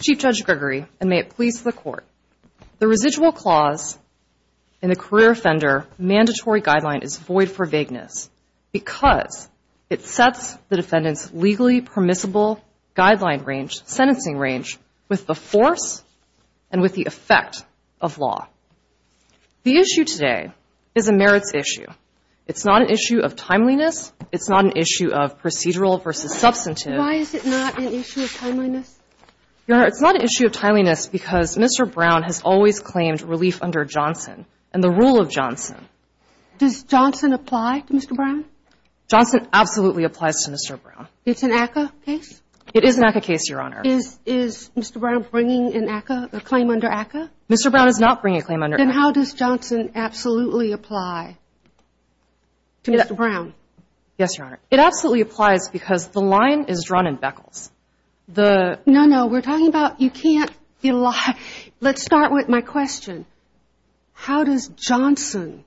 Chief Judge Gregory, and may it please the Court, the residual clause in the career offender mandatory guideline is void for vagueness because it sets the defendant's legally permissible guideline range, sentencing range, with the force and with the effect of law. The issue today is a merits issue. It's not an issue of timeliness. It's not an issue of procedural versus substantive. Why is it not an issue of timeliness? Your Honor, it's not an issue of timeliness because Mr. Brown has always claimed relief under Johnson and the rule of Johnson. Does Johnson apply to Mr. Brown? Johnson absolutely applies to Mr. Brown. It's an ACCA case? It is an ACCA case, Your Honor. Is Mr. Brown bringing an ACCA, a claim under ACCA? Mr. Brown is not bringing a claim under ACCA. Then how does Johnson absolutely apply to Mr. Brown? Yes, Your Honor. It absolutely applies because the line is drawn in Beckles. The... No, no. We're talking about you can't... Let's start with my question. How does Johnson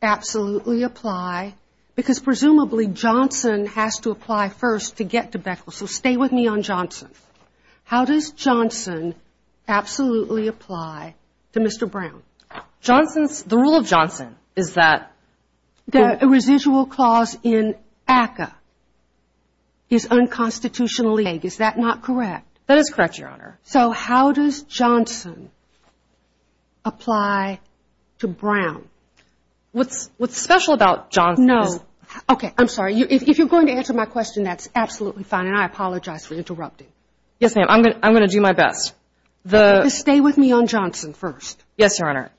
absolutely apply? Because presumably Johnson has to apply first to get to Beckles. So stay with me on Johnson. How does Johnson absolutely apply to Mr. Brown? Johnson's... The rule of Johnson is that... That a residual clause in ACCA is unconstitutionally vague. Is that not correct? That is correct, Your Honor. So how does Johnson apply to Brown? What's special about Johnson is... No. Okay, I'm sorry. If you're going to answer my question, that's absolutely fine. And I apologize for interrupting. Yes, ma'am. I'm going to do my best. The... Just stay with me on Johnson first. Yes, Your Honor.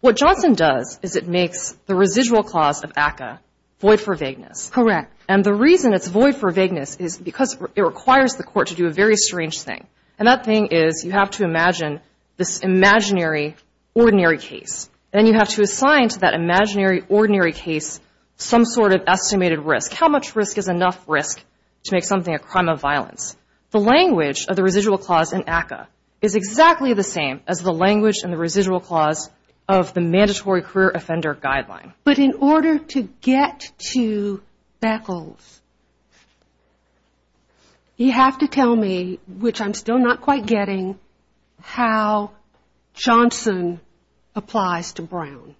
What Johnson does is it makes the residual clause of ACCA void for vagueness. Correct. And the reason it's void for vagueness is because it requires the court to do a very strange thing. And that thing is you have to imagine this imaginary, ordinary case. Then you have to assign to that imaginary, ordinary case some sort of estimated risk. How much risk is enough risk to make something a crime of violence? The language of the residual clause in ACCA is exactly the same as the language in the residual clause of the mandatory career offender guideline. But in order to get to Beckles, you have to tell me, which I'm still not quite getting, how Johnson applies to Brown.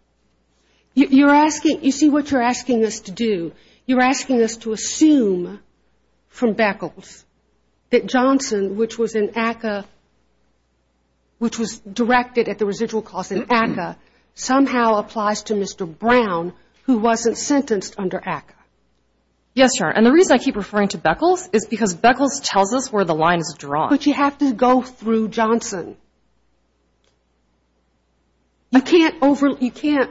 You're asking... You see what you're asking us to do? You're asking us to assume from Beckles that Johnson, which was in ACCA, which was directed at the residual clause in ACCA, somehow applies to Mr. Brown, who wasn't sentenced under ACCA. Yes, Your Honor. And the reason I keep referring to Beckles is because Beckles tells us where the line is drawn. But you have to go through Johnson. You can't over... You can't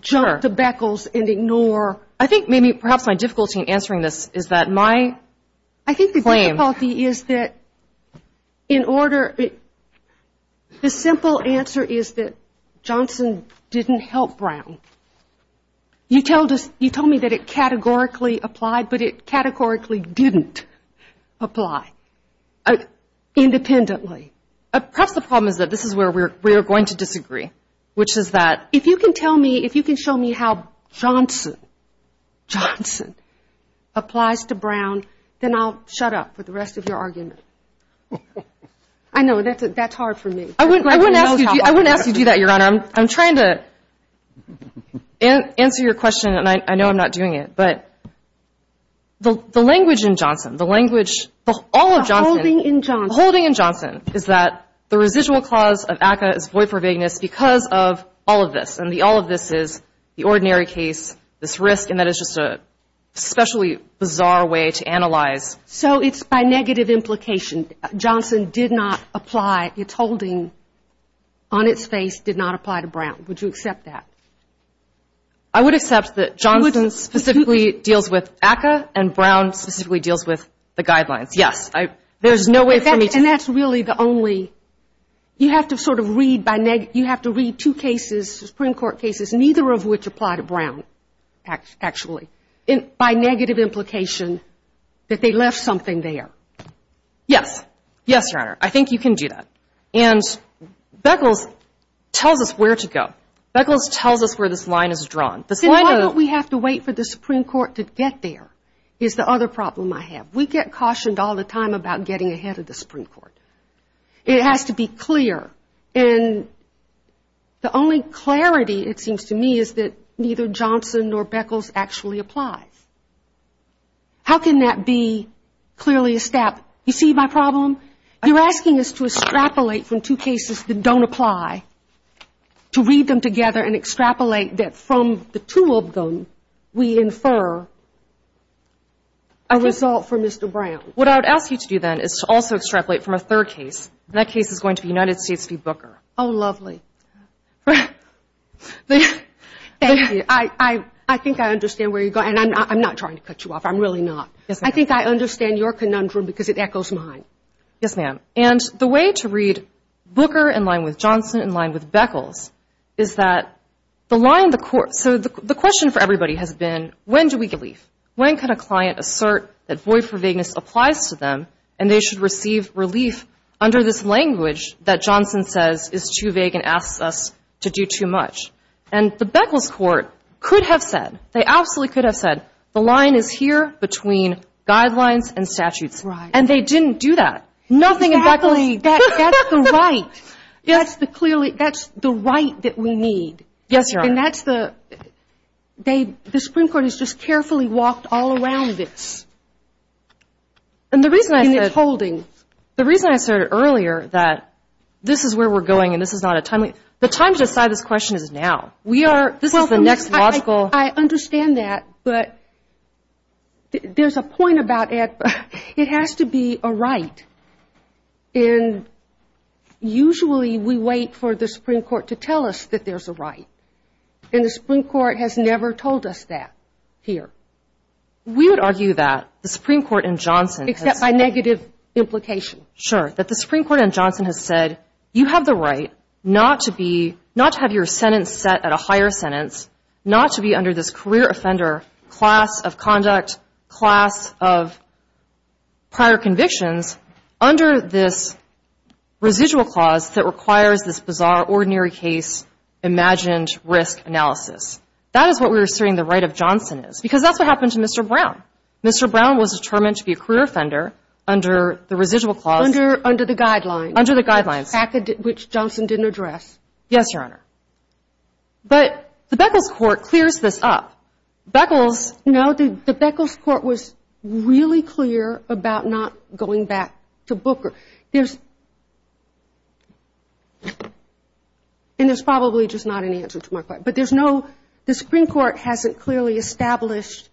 jump to Beckles and ignore... I think maybe perhaps my difficulty in answering this is that my claim... Your Honor, the simple answer is that Johnson didn't help Brown. You told us... You told me that it categorically applied, but it categorically didn't apply independently. Perhaps the problem is that this is where we're going to disagree, which is that if you can tell me, if you can show me how Johnson applies to Brown, then I'll shut up with the rest of your argument. I know, that's hard for me. I wouldn't ask you to do that, Your Honor. I'm trying to answer your question, and I know I'm not doing it. But the language in Johnson, the language... The holding in Johnson. The holding in Johnson is that the residual clause of ACCA is void for vagueness because of all of this. And all of this is the ordinary case, this risk, and that is just an especially bizarre way to analyze. So it's by negative implication. Johnson did not apply. Its holding on its face did not apply to Brown. Would you accept that? I would accept that Johnson specifically deals with ACCA, and Brown specifically deals with the guidelines. Yes. There's no way for me to... And that's really the only... You have to sort of read by negative... You have to read two cases, Supreme Court cases, neither of which apply to Brown, actually, by negative implication that they left something there. Yes. Yes, Your Honor. I think you can do that. And Beckles tells us where to go. Beckles tells us where this line is drawn. This line of... Then why don't we have to wait for the Supreme Court to get there, is the other problem I have. We get cautioned all the time about getting ahead of the Supreme Court. It has to be clear. And the only clarity, it seems to me, is that neither Johnson nor Beckles actually applies. How can that be clearly a step? You see my problem? You're asking us to extrapolate from two cases that don't apply, to read them together and extrapolate that from the two of them, we infer a result for Mr. Brown. What I would ask you to do, then, is to also extrapolate from a third case. That case is going to be United States v. Booker. Oh, lovely. Thank you. I think I understand where you're going. And I'm not trying to cut you off. I'm really not. Yes, ma'am. I think I understand your conundrum because it echoes mine. Yes, ma'am. And the way to read Booker in line with Johnson in line with Beckles is that the line... So the question for everybody has been, when do we leave? When can a client assert that void for vagueness applies to them and they should receive relief under this language that Johnson says is too vague and asks us to do too much? And the Beckles court could have said, they absolutely could have said, the line is here between guidelines and statutes. Right. And they didn't do that. Nothing in Beckles... That's the right. That's the clearly, that's the right that we need. Yes, Your Honor. And that's the, they, the Supreme Court has just carefully walked all around this. And the reason I said... And it's holding. The reason I said earlier that this is where we're going and this is not a timely, the time to decide this question is now. We are... This is the next logical... I understand that. But there's a point about it. It has to be a right. And usually we wait for the Supreme Court to tell us that there's a right. And the Supreme Court has never told us that here. We would argue that the Supreme Court in Johnson... Except by negative implication. Sure. ...that the Supreme Court in Johnson has said, you have the right not to be, not to have your sentence set at a higher sentence, not to be under this career offender class of conduct, class of prior convictions, under this residual clause that requires this bizarre, ordinary case, imagined risk analysis. That is what we're asserting the right of Johnson is. Because that's what happened to Mr. Brown. Mr. Brown was determined to be a career offender under the residual clause... Under the guidelines. Under the guidelines. Which Johnson didn't address. Yes, Your Honor. But the Beckles Court clears this up. Beckles... No, the Beckles Court was really clear about not going back to Booker. There's... And there's probably just not an answer to my question. But there's no... The Supreme Court hasn't clearly established...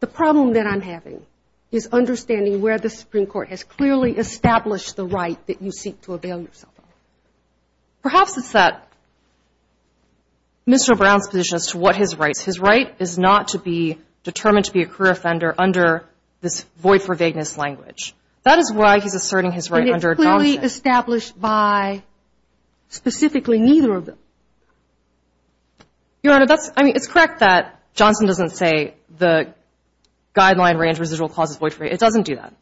The problem that I'm having is understanding where the Supreme Court has clearly established the right that you seek to avail yourself of. Perhaps it's that Mr. Brown's position as to what his rights... His right is not to be determined to be a career offender under this void for vagueness language. That is why he's asserting his right under Johnson. It's not clearly established by specifically neither of them. Your Honor, that's... I mean, it's correct that Johnson doesn't say the guideline range residual clauses void for... It doesn't do that.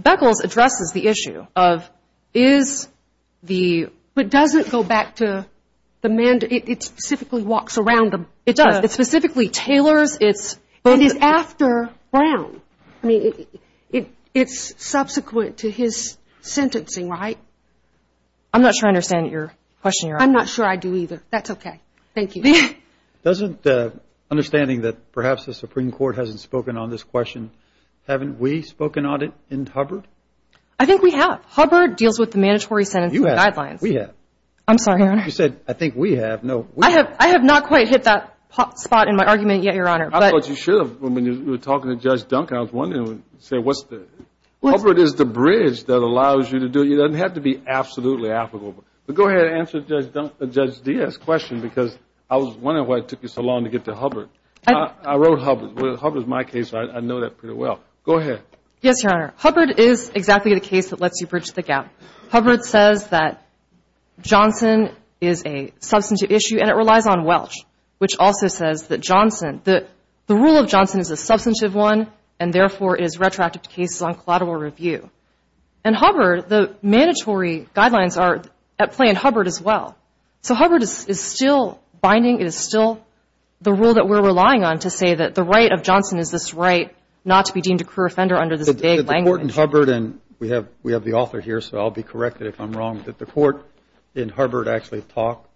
Beckles addresses the issue of is the... But doesn't go back to the... It specifically walks around the... It does. It specifically tailors its... It is after Brown. I mean, it's subsequent to his sentencing, right? I'm not sure I understand your question, Your Honor. I'm not sure I do either. That's okay. Thank you. Doesn't... Understanding that perhaps the Supreme Court hasn't spoken on this question, haven't we spoken on it in Hubbard? I think we have. Hubbard deals with the mandatory sentencing guidelines. We have. I'm sorry, Your Honor. You said, I think we have. No, we have. I have not quite hit that spot in my argument yet, Your Honor. I thought you should have when we were talking to Judge Duncan. I was wondering, say, what's the... Hubbard is the bridge that allows you to do... It doesn't have to be absolutely applicable. But go ahead and answer Judge D's question because I was wondering why it took you so long to get to Hubbard. I wrote Hubbard. Hubbard is my case. I know that pretty well. Go ahead. Yes, Your Honor. Hubbard is exactly the case that lets you bridge the gap. Hubbard says that Johnson is a substantive issue and it relies on Welch, which also says that Johnson, the rule of Johnson is a substantive one, and therefore, it is retroactive to cases on collateral review. And Hubbard, the mandatory guidelines are at play in Hubbard as well. So Hubbard is still binding. It is still the rule that we're relying on to say that the right of Johnson is this right not to be deemed a career offender under this vague language. The court in Hubbard, and we have the author here, so I'll be corrected if I'm wrong, did the court in Hubbard actually talk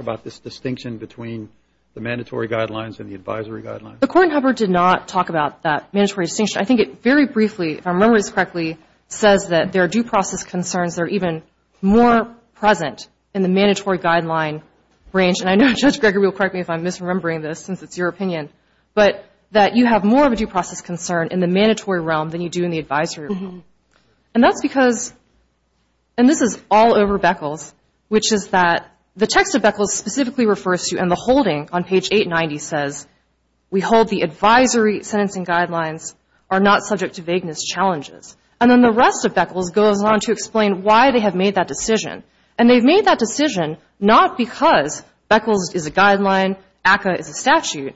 about this distinction between the mandatory guidelines and the advisory guidelines? The court in Hubbard did not talk about that mandatory distinction. I think it very briefly, if I remember this correctly, says that there are due process concerns that are even more present in the mandatory guideline range. And I know Judge Greger will correct me if I'm misremembering this since it's your opinion, but that you have more of a due process concern in the mandatory realm than you do in the advisory realm. And that's because, and this is all over Beckles, which is that the text of Beckles specifically refers to, and the holding on page 890 says, we hold the advisory sentencing guidelines are not subject to vagueness challenges. And then the rest of Beckles goes on to explain why they have made that decision. And they've made that decision not because Beckles is a guideline, ACCA is a statute.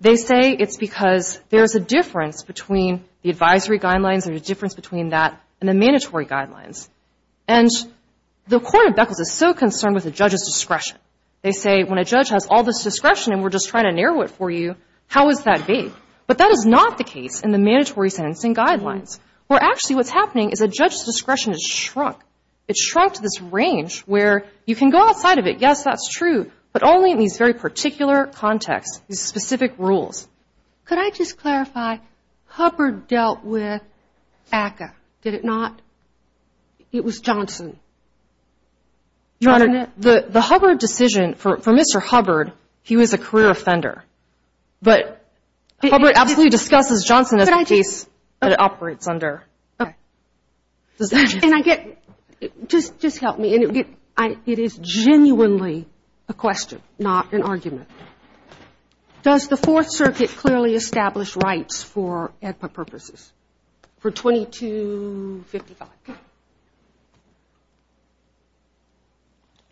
They say it's because there's a difference between the advisory guidelines and the difference between that and the mandatory guidelines. And the Court of Beckles is so concerned with the judge's discretion. They say, when a judge has all this discretion and we're just trying to narrow it for you, how is that vague? But that is not the case in the mandatory sentencing guidelines, where actually what's happening is a judge's discretion has shrunk. It's shrunk to this range where you can go outside of it, yes, that's true, but only in these very particular contexts, these specific rules. Could I just clarify, Hubbard dealt with ACCA, did it not? It was Johnson. Your Honor, the Hubbard decision, for Mr. Hubbard, he was a career offender. But Hubbard absolutely discusses Johnson as a case that it operates under. Okay. And I get, just help me, it is genuinely a question, not an argument. Does the Fourth Circuit clearly establish rights for EDPA purposes for 2255?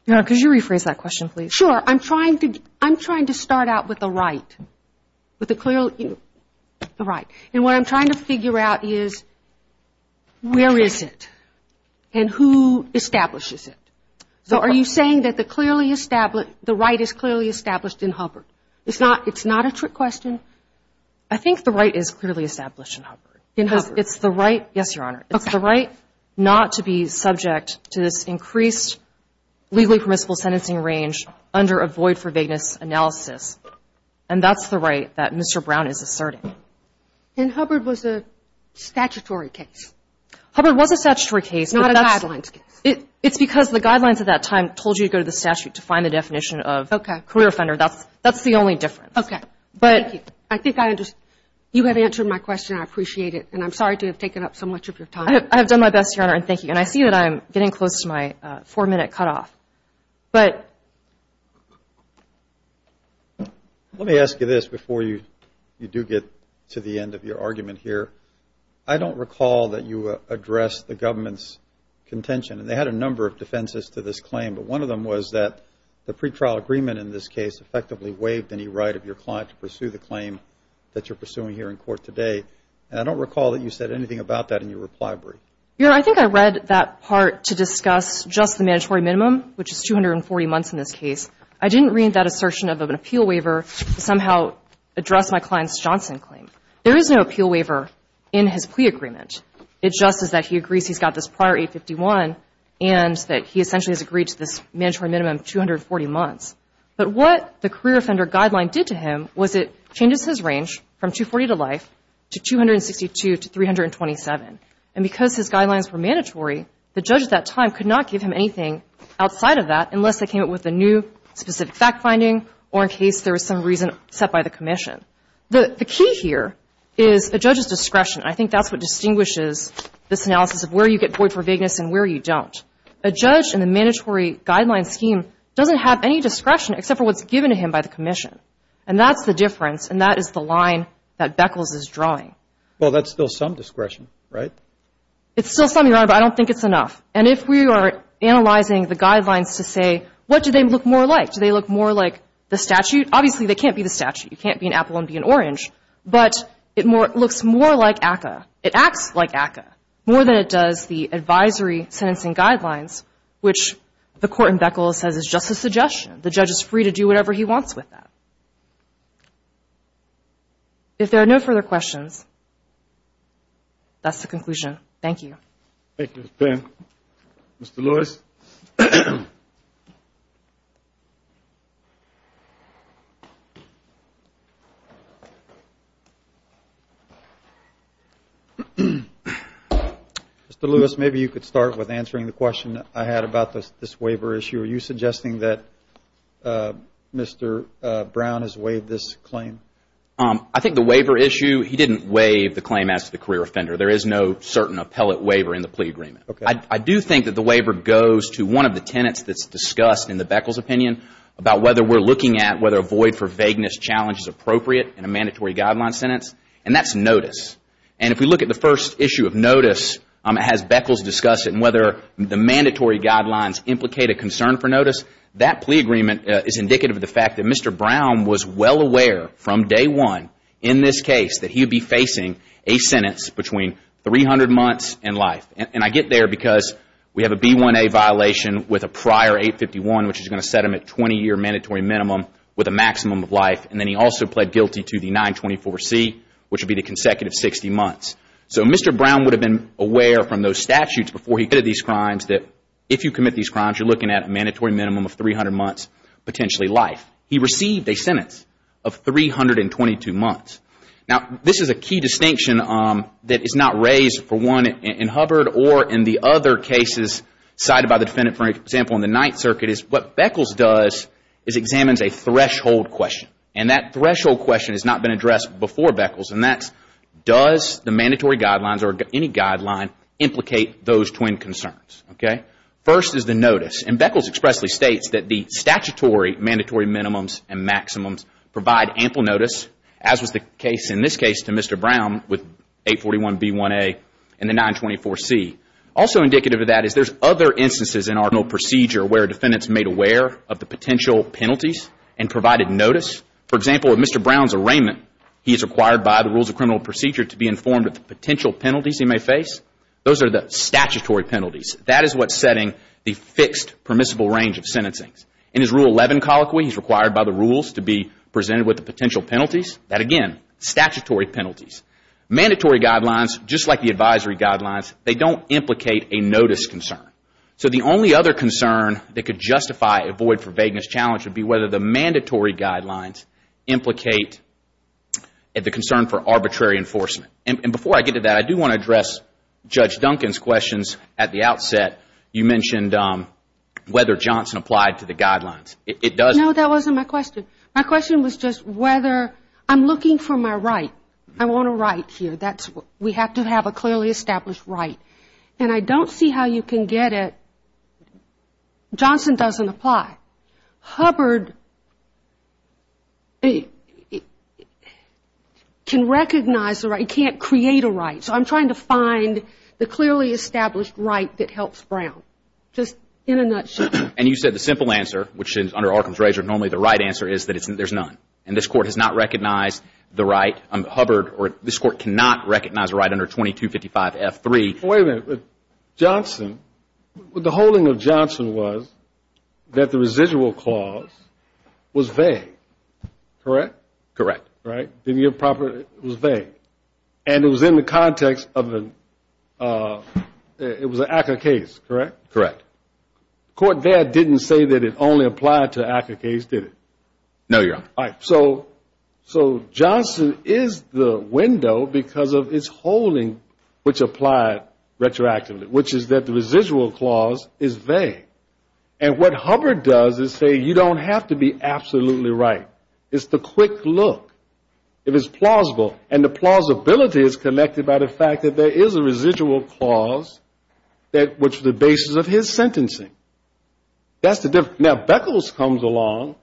Your Honor, could you rephrase that question, please? Sure, I'm trying to start out with the right, with the clearly, you know, the right. And what I'm trying to figure out is, where is it? And who establishes it? So are you saying that the clearly established, the right is clearly established in Hubbard? It's not, it's not a trick question? I think the right is clearly established in Hubbard. In Hubbard. It's the right, yes, Your Honor. It's the right not to be subject to this increased legally permissible sentencing range under a void for vagueness analysis. And that's the right that Mr. Brown is asserting. And Hubbard was a statutory case? Hubbard was a statutory case. Not a guidelines case? It's because the guidelines at that time told you to go to the statute to find the definition of career offender. That's the only difference. Okay, thank you. I think I understand. You have answered my question, and I appreciate it. And I'm sorry to have taken up so much of your time. I have done my best, Your Honor, and thank you. And I see that I'm getting close to my four-minute cutoff. But. Let me ask you this before you do get to the end of your argument here. I don't recall that you addressed the government's contention. And they had a number of defenses to this claim. But one of them was that the pretrial agreement in this case effectively waived any right of your client to pursue the claim that you're pursuing here in court today. And I don't recall that you said anything about that in your reply brief. Your Honor, I think I read that part to discuss just the mandatory minimum, which is 240 months in this case. I didn't read that assertion of an appeal waiver to somehow address my client's Johnson claim. There is no appeal waiver in his plea agreement. It's just that he agrees he's got this prior 851 and that he essentially has agreed to this mandatory minimum of 240 months. But what the career offender guideline did to him was it changes his range from 240 to life to 262 to 327. And because his guidelines were mandatory, the judge at that time could not give him anything outside of that unless they came up with a new specific fact finding or in case there was some reason set by the commission. The key here is a judge's discretion. I think that's what distinguishes this analysis of where you get bored for vagueness and where you don't. A judge in the mandatory guideline scheme doesn't have any discretion except for what's given to him by the commission. And that's the difference. And that is the line that Beckles is drawing. Well, that's still some discretion, right? It's still some, Your Honor, but I don't think it's enough. And if we are analyzing the guidelines to say, what do they look more like? Do they look more like the statute? Obviously, they can't be the statute. You can't be an apple and be an orange. But it looks more like ACCA. It acts like ACCA more than it does the advisory sentencing guidelines, which the court in Beckles says is just a suggestion. The judge is free to do whatever he wants with that. If there are no further questions, that's the conclusion. Thank you. Thank you, Ms. Penn. Mr. Lewis? Mr. Lewis, maybe you could start with answering the question I had about this waiver issue. Are you suggesting that Mr. Brown has waived this claim? I think the waiver issue, he didn't waive the claim as to the career offender. There is no certain appellate waiver in the plea agreement. I do think that the waiver goes to one of the tenets that's discussed in the Beckles opinion about whether we're looking at whether a void for vagueness challenge is appropriate in a mandatory guideline sentence. And that's notice. And if we look at the first issue of notice, it has Beckles discuss it and whether the notice, that plea agreement is indicative of the fact that Mr. Brown was well aware from day one in this case that he would be facing a sentence between 300 months and life. And I get there because we have a B1A violation with a prior 851, which is going to set him at 20-year mandatory minimum with a maximum of life. And then he also pled guilty to the 924C, which would be the consecutive 60 months. So Mr. Brown would have been aware from those statutes before he committed these crimes that if you commit these crimes, you're looking at a mandatory minimum of 300 months, potentially life. He received a sentence of 322 months. Now, this is a key distinction that is not raised for one in Hubbard or in the other cases cited by the defendant. For example, in the Ninth Circuit is what Beckles does is examines a threshold question. And that threshold question has not been addressed before Beckles. And that's, does the mandatory guidelines or any guideline implicate those twin concerns? OK? First is the notice. And Beckles expressly states that the statutory mandatory minimums and maximums provide ample notice, as was the case in this case to Mr. Brown with 841B1A and the 924C. Also indicative of that is there's other instances in our procedure where defendants made aware of the potential penalties and provided notice. For example, with Mr. Brown's arraignment, he is required by the rules of criminal procedure to be informed of the potential penalties he may face. Those are the statutory penalties. That is what's setting the fixed permissible range of sentencing. In his Rule 11 colloquy, he's required by the rules to be presented with the potential penalties. That, again, statutory penalties. Mandatory guidelines, just like the advisory guidelines, they don't implicate a notice concern. So the only other concern that could justify a void for vagueness challenge would be whether the mandatory guidelines implicate the concern for arbitrary enforcement. And before I get to that, I do want to address Judge Duncan's questions at the outset. You mentioned whether Johnson applied to the guidelines. It does... No, that wasn't my question. My question was just whether... I'm looking for my right. I want a right here. That's what... We have to have a clearly established right. And I don't see how you can get it. Johnson doesn't apply. Hubbard can recognize the right. He can't create a right. So I'm trying to find the clearly established right that helps Brown, just in a nutshell. And you said the simple answer, which is under Arkham's Razor, normally the right answer is that there's none. And this Court has not recognized the right. Hubbard or this Court cannot recognize a right under 2255F3. Wait a minute. Johnson, the holding of Johnson was that the residual clause was vague. Correct? Correct. Right? Didn't give proper... It was vague. And it was in the context of an... It was an ACCA case, correct? Correct. Court there didn't say that it only applied to an ACCA case, did it? No, Your Honor. So Johnson is the window because of his holding, which applied retroactively, which is that the residual clause is vague. And what Hubbard does is say, you don't have to be absolutely right. It's the quick look. It is plausible. And the plausibility is connected by the fact that there is a residual clause, which is the basis of his sentencing. That's the difference. Now, Beckles comes along.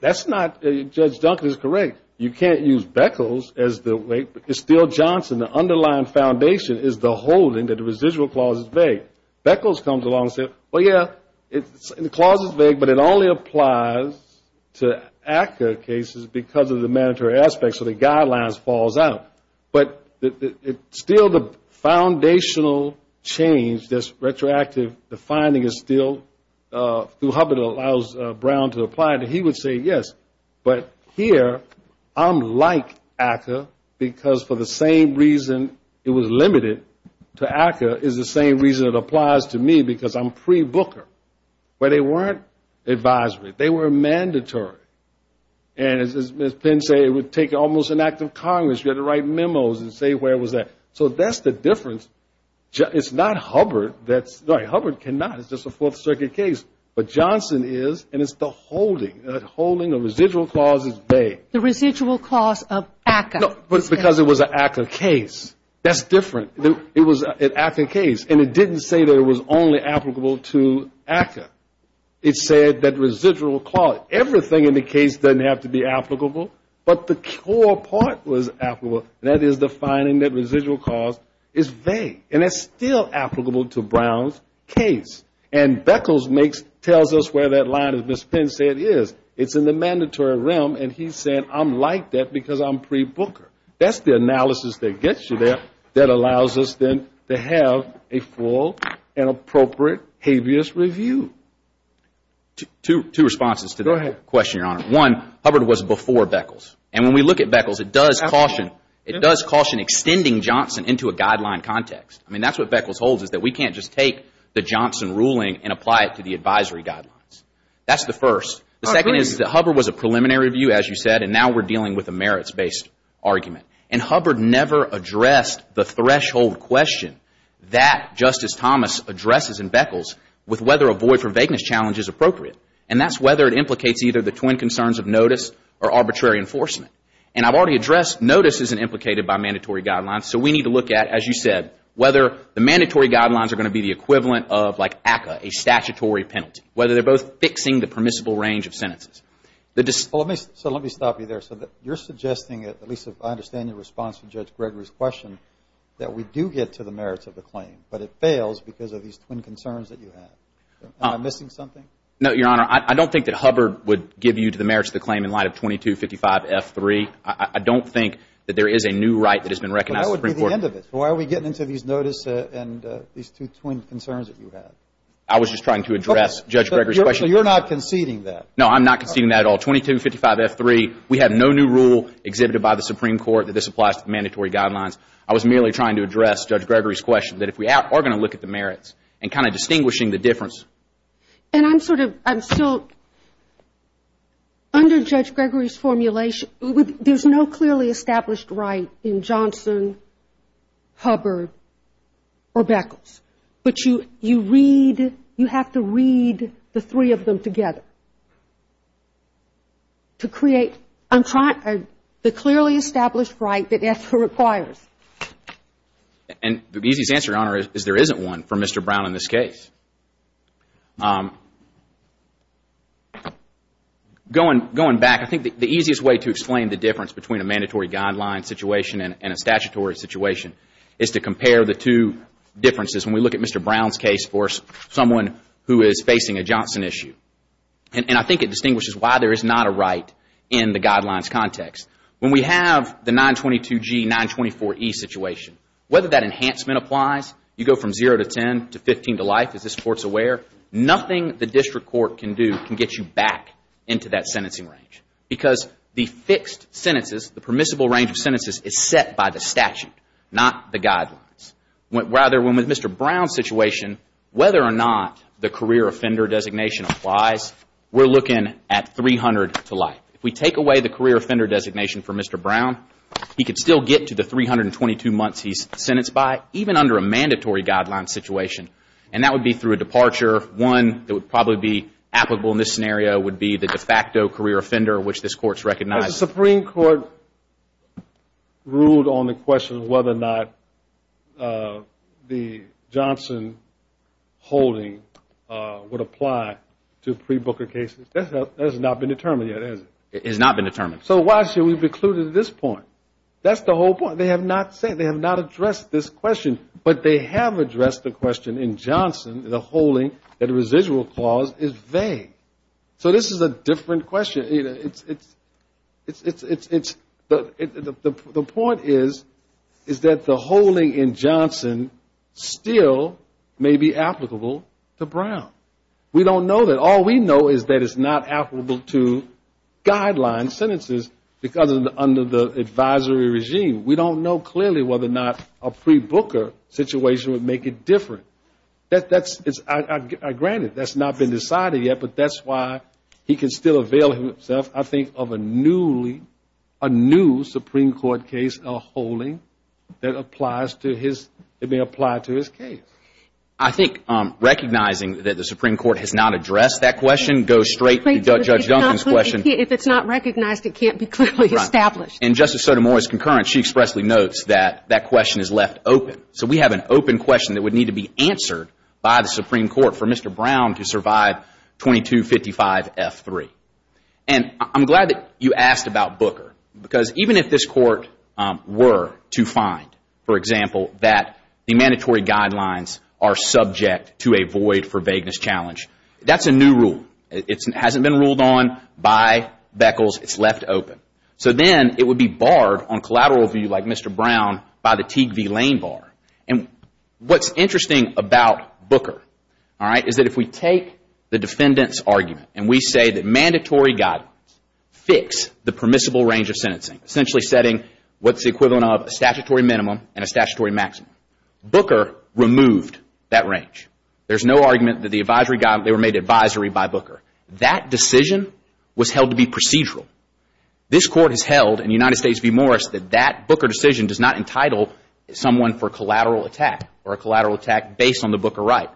That's not... Judge Duncan is correct. You can't use Beckles as the weight. It's still Johnson. The underlying foundation is the holding that the residual clause is vague. Beckles comes along and says, well, yeah, the clause is vague, but it only applies to ACCA cases because of the mandatory aspects, so the guidelines falls out. But it's still the foundational change that's retroactive. The finding is still, through Hubbard, allows Brown to apply it. He would say, yes, but here I'm like ACCA because for the same reason it was limited to ACCA is the same reason it applies to me because I'm pre-Booker, where they weren't advisory. They were mandatory. And as Ms. Penn said, it would take almost an act of Congress. You had to write memos and say where was that. So that's the difference. It's not Hubbard that's... No, Hubbard cannot. It's just a Fourth Circuit case. But Johnson is, and it's the holding. The holding of residual clause is vague. The residual clause of ACCA. No, but it's because it was an ACCA case. That's different. It was an ACCA case, and it didn't say that it was only applicable to ACCA. It said that residual clause, everything in the case doesn't have to be applicable, but the core part was applicable, and that is the finding that residual clause is vague. And it's still applicable to Brown's case. And Beckles tells us where that line, as Ms. Penn said, is. It's in the mandatory realm, and he's saying I'm like that because I'm pre-Booker. That's the analysis that gets you there that allows us then to have a full and appropriate habeas review. Two responses to that question, Your Honor. One, Hubbard was before Beckles, and when we look at Beckles, it does caution extending Johnson into a guideline context. I mean, that's what Beckles holds is that we can't just take the Johnson ruling and apply it to the advisory guidelines. That's the first. The second is that Hubbard was a preliminary review, as you said, and now we're dealing with a merits-based argument. And Hubbard never addressed the threshold question that Justice Thomas addresses in Beckles with whether a void for vagueness challenge is appropriate. And that's whether it implicates either the twin concerns of notice or arbitrary enforcement. And I've already addressed notice isn't implicated by mandatory guidelines, so we need to look at, as you said, whether the mandatory guidelines are going to be the equivalent of like ACCA, a statutory penalty, whether they're both fixing the permissible range of sentences. So let me stop you there. So you're suggesting, at least I understand your response to Judge Gregory's question, that we do get to the merits of the claim, but it fails because of these twin concerns that you have. Am I missing something? No, Your Honor. I don't think that Hubbard would give you to the merits of the claim in light of 2255 F3. I don't think that there is a new right that has been recognized in the Supreme Court. But that would be the end of it. Why are we getting into these notice and these two twin concerns that you have? I was just trying to address Judge Gregory's question. So you're not conceding that? No, I'm not conceding that at all. 2255 F3, we have no new rule exhibited by the Supreme Court that this applies to the mandatory guidelines. I was merely trying to address Judge Gregory's question, that if we are going to look at the merits and kind of distinguishing the difference. And I'm sort of, I'm still, under Judge Gregory's formulation, there's no clearly established right in Johnson, Hubbard, or Beckles. But you read, you have to read the three of them together to create the clearly established right that it requires. And the easiest answer, Your Honor, is there isn't one for Mr. Brown in this case. Going back, I think the easiest way to explain the difference between a mandatory guideline situation and a statutory situation is to compare the two differences. When we look at Mr. Brown's case for someone who is facing a Johnson issue, and I think it distinguishes why there is not a right in the guidelines context. When we have the 922G, 924E situation, whether that enhancement applies, you go from 0 to 10 to 15 to life, as this Court's aware, nothing the district court can do can get you back into that sentencing range. Because the fixed sentences, the permissible range of sentences, is set by the statute, not the guidelines. Rather, when with Mr. Brown's situation, whether or not the career offender designation applies, we're looking at 300 to life. If we take away the career offender designation for Mr. Brown, he could still get to the 322 months he's sentenced by, even under a mandatory guideline situation. And that would be through a departure. One that would probably be applicable in this scenario would be the de facto career offender, which this Court's recognized. Has the Supreme Court ruled on the question of whether or not the Johnson holding would apply to pre-Booker cases? That has not been determined yet, has it? It has not been determined. So why should we be clued to this point? That's the whole point. They have not addressed this question. But they have addressed the question in Johnson, the holding that a residual clause is vague. So this is a different question. The point is that the holding in Johnson still may be applicable to Brown. We don't know that. All we know is that it's not applicable to guideline sentences because under the advisory regime. We don't know clearly whether or not a pre-Booker situation would make it different. Granted, that's not been decided yet. But that's why he can still avail himself, I think, of a new Supreme Court case, a holding that may apply to his case. I think recognizing that the Supreme Court has not addressed that question goes straight to Judge Johnson's question. If it's not recognized, it can't be clearly established. And Justice Sotomayor's concurrence, she expressly notes that that question is left open. So we have an open question that would need to be answered by the Supreme Court for Mr. Brown to survive 2255 F3. And I'm glad that you asked about Booker because even if this court were to find, for example, that the mandatory guidelines are subject to a void for vagueness challenge, that's a new rule. It hasn't been ruled on by Beckles. It's left open. So then it would be barred on collateral view like Mr. Brown by the Teague v. Lane bar. And what's interesting about Booker, all right, is that if we take the defendant's argument and we say that mandatory guidelines fix the permissible range of sentencing, essentially setting what's the equivalent of a statutory minimum and a statutory maximum, Booker removed that range. There's no argument that the advisory guidelines, they were made advisory by Booker. That decision was held to be procedural. This court has held in United States v. Morris that that Booker decision does not entitle someone for collateral attack or a collateral attack based on the Booker right.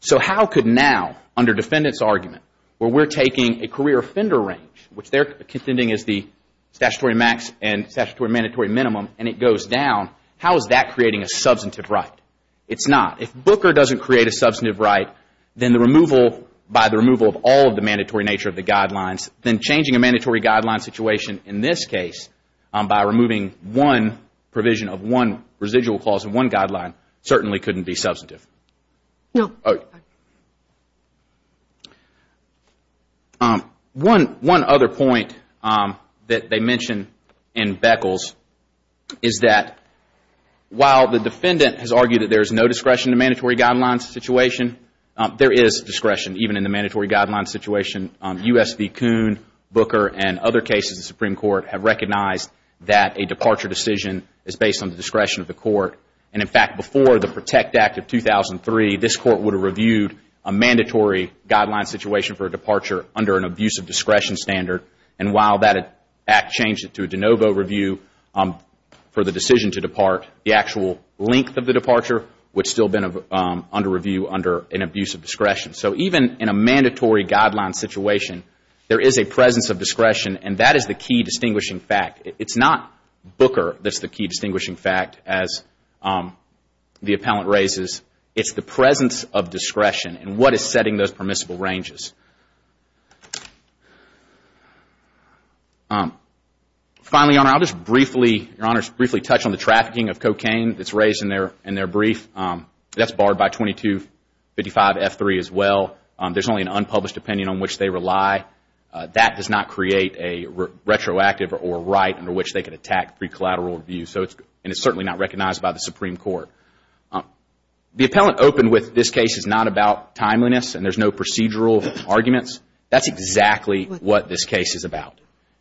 So how could now, under defendant's argument, where we're taking a career offender range, which they're contending is the statutory max and statutory mandatory minimum and it goes down, how is that creating a substantive right? It's not. If Booker doesn't create a substantive right, then the removal by the removal of all of the mandatory nature of the guidelines, then changing a mandatory guideline situation in this case by removing one provision of one residual clause of one guideline certainly couldn't be substantive. One other point that they mention in Beckles is that while the defendant has argued that there is no discretion to mandatory guidelines situation, there is discretion even in the mandatory guideline situation, U.S. v. Kuhn, Booker and other cases of Supreme Court have recognized that a departure decision is based on the discretion of the court. And in fact, before the Protect Act of 2003, this court would have reviewed a mandatory guideline situation for a departure under an abuse of discretion standard. And while that act changed it to a de novo review for the decision to depart, the actual length of the departure would still have been under review under an abuse of discretion. So even in a mandatory guideline situation, there is a presence of discretion and that is the key distinguishing fact. It's not Booker that's the key distinguishing fact as the appellant raises. It's the presence of discretion and what is setting those permissible ranges. Finally, Your Honor, I'll just briefly touch on the trafficking of cocaine that's raised in their brief. That's barred by 2255 F3 as well. There's only an unpublished opinion on which they rely. That does not create a retroactive or right under which they can attack pre-collateral review and it's certainly not recognized by the Supreme Court. The appellant opened with this case is not about timeliness and there's no procedural arguments. That's exactly what this case is about.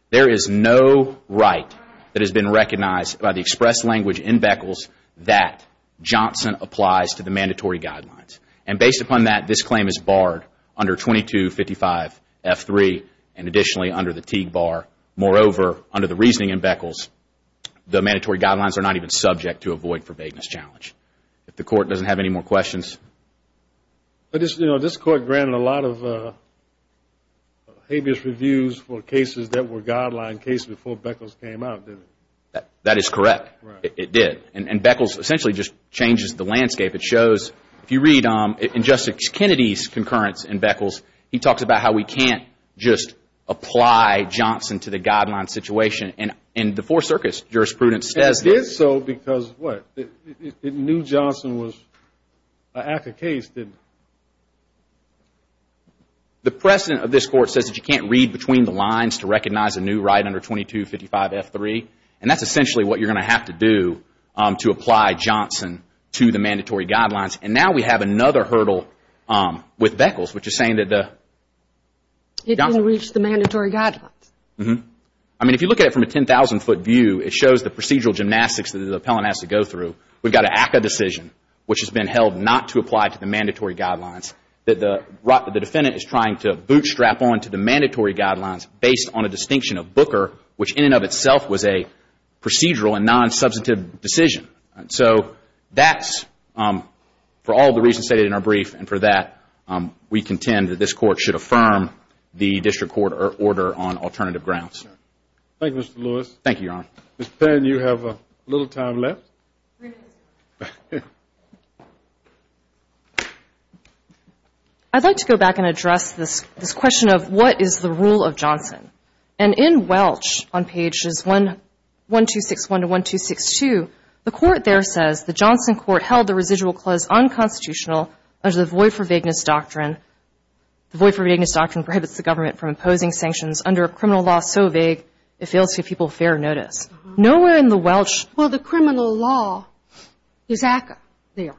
There is no right that has been recognized by the express language in Beckles that Johnson applies to the mandatory guidelines. Based upon that, this claim is barred under 2255 F3 and additionally under the Teague Bar. Moreover, under the reasoning in Beckles, the mandatory guidelines are not even subject to a void for vagueness challenge. If the Court doesn't have any more questions. But this Court granted a lot of habeas reviews for cases that were guideline cases before Beckles came out, didn't it? That is correct. It did. And Beckles essentially just changes the landscape. It shows, if you read in Justice Kennedy's concurrence in Beckles, he talks about how we can't just apply Johnson to the guideline situation and the Four Circus jurisprudence says that. It did so because, what, it knew Johnson was an active case, didn't it? The precedent of this Court says that you can't read between the lines to recognize a new right under 2255 F3 and that's essentially what you're going to have to do to apply Johnson to the mandatory guidelines. And now we have another hurdle with Beckles, which is saying that the... It didn't reach the mandatory guidelines. I mean, if you look at it from a 10,000 foot view, it shows the procedural gymnastics that the appellant has to go through. We've got an ACCA decision, which has been held not to apply to the mandatory guidelines that the defendant is trying to bootstrap on to the mandatory guidelines based on a was a procedural and non-substantive decision. So that's, for all the reasons stated in our brief, and for that, we contend that this Court should affirm the District Court order on alternative grounds. Thank you, Mr. Lewis. Thank you, Your Honor. Ms. Penn, you have a little time left. I'd like to go back and address this question of what is the rule of Johnson? And in Welch, on pages 1261 to 1262, the court there says, the Johnson court held the residual clause unconstitutional under the void for vagueness doctrine. The void for vagueness doctrine prohibits the government from imposing sanctions under a criminal law so vague it fails to give people fair notice. Nowhere in the Welch... Well, the criminal law is ACCA there.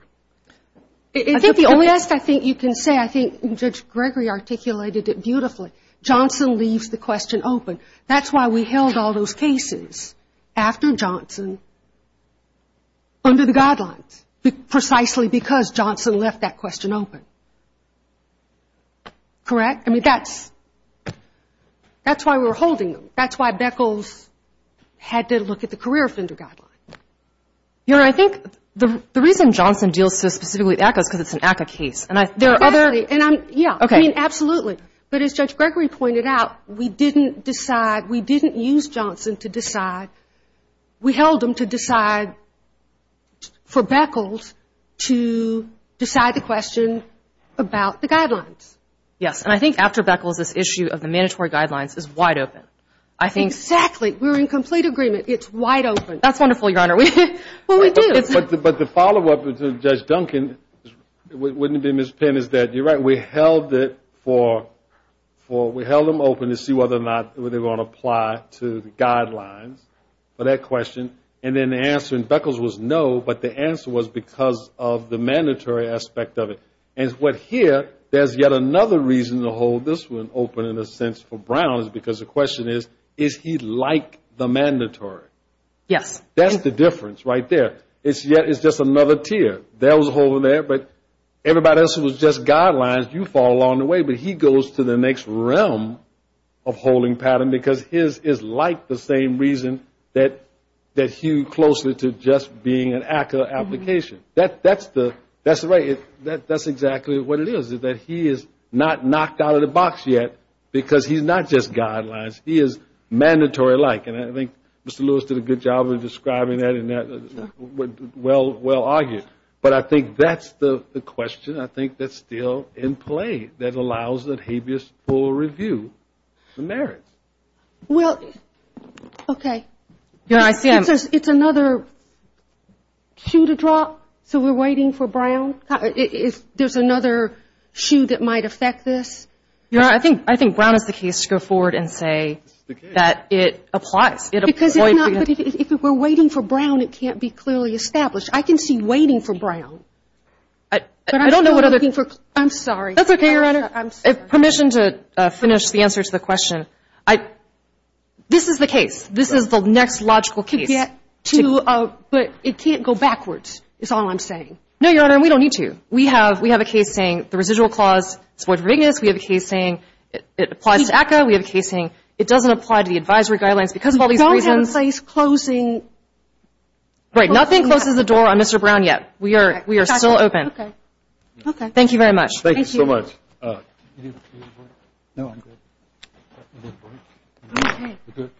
I think the only rest I think you can say, I think Judge Gregory articulated it beautifully. Johnson leaves the question open. That's why we held all those cases after Johnson under the guidelines, precisely because Johnson left that question open. Correct? I mean, that's why we were holding them. That's why Beckles had to look at the career offender guideline. Your Honor, I think the reason Johnson deals so specifically with ACCA is because it's an ACCA case. And there are other... Exactly. And I'm... Yeah. Okay. I mean, absolutely. But as Judge Gregory pointed out, we didn't decide, we didn't use Johnson to decide. We held them to decide for Beckles to decide the question about the guidelines. Yes. And I think after Beckles, this issue of the mandatory guidelines is wide open. I think... Exactly. We're in complete agreement. It's wide open. That's wonderful, Your Honor. Well, we do. But the follow-up to Judge Duncan, wouldn't it be Ms. Penn, is that you're right. We held it for... We held them open to see whether or not they're going to apply to the guidelines for that question. And then the answer in Beckles was no, but the answer was because of the mandatory aspect of it. And what here, there's yet another reason to hold this one open in a sense for Brown is because the question is, is he like the mandatory? Yes. That's the difference right there. It's just another tier. There was a hole in there, but everybody else was just guidelines. You fall along the way, but he goes to the next realm of holding pattern because his is like the same reason that hew closely to just being an active application. That's right. That's exactly what it is, is that he is not knocked out of the box yet because he's not just guidelines. He is mandatory-like. And I think Mr. Lewis did a good job of describing that and well argued. I think that's the question. I think that's still in play that allows that habeas for review the merits. Well, okay. It's another shoe to drop. So we're waiting for Brown? There's another shoe that might affect this? I think Brown is the case to go forward and say that it applies. If we're waiting for Brown, it can't be clearly established. I can see waiting for Brown. I'm sorry. That's okay, Your Honor. Permission to finish the answer to the question. This is the case. This is the next logical case. But it can't go backwards is all I'm saying. No, Your Honor. We don't need to. We have a case saying the residual clause is void for bigness. We have a case saying it applies to ACCA. We have a case saying it doesn't apply to the advisory guidelines because of all these We don't have a place closing. Right. Nothing closes the door on Mr. Brown yet. We are still open. Thank you very much. Thank you so much.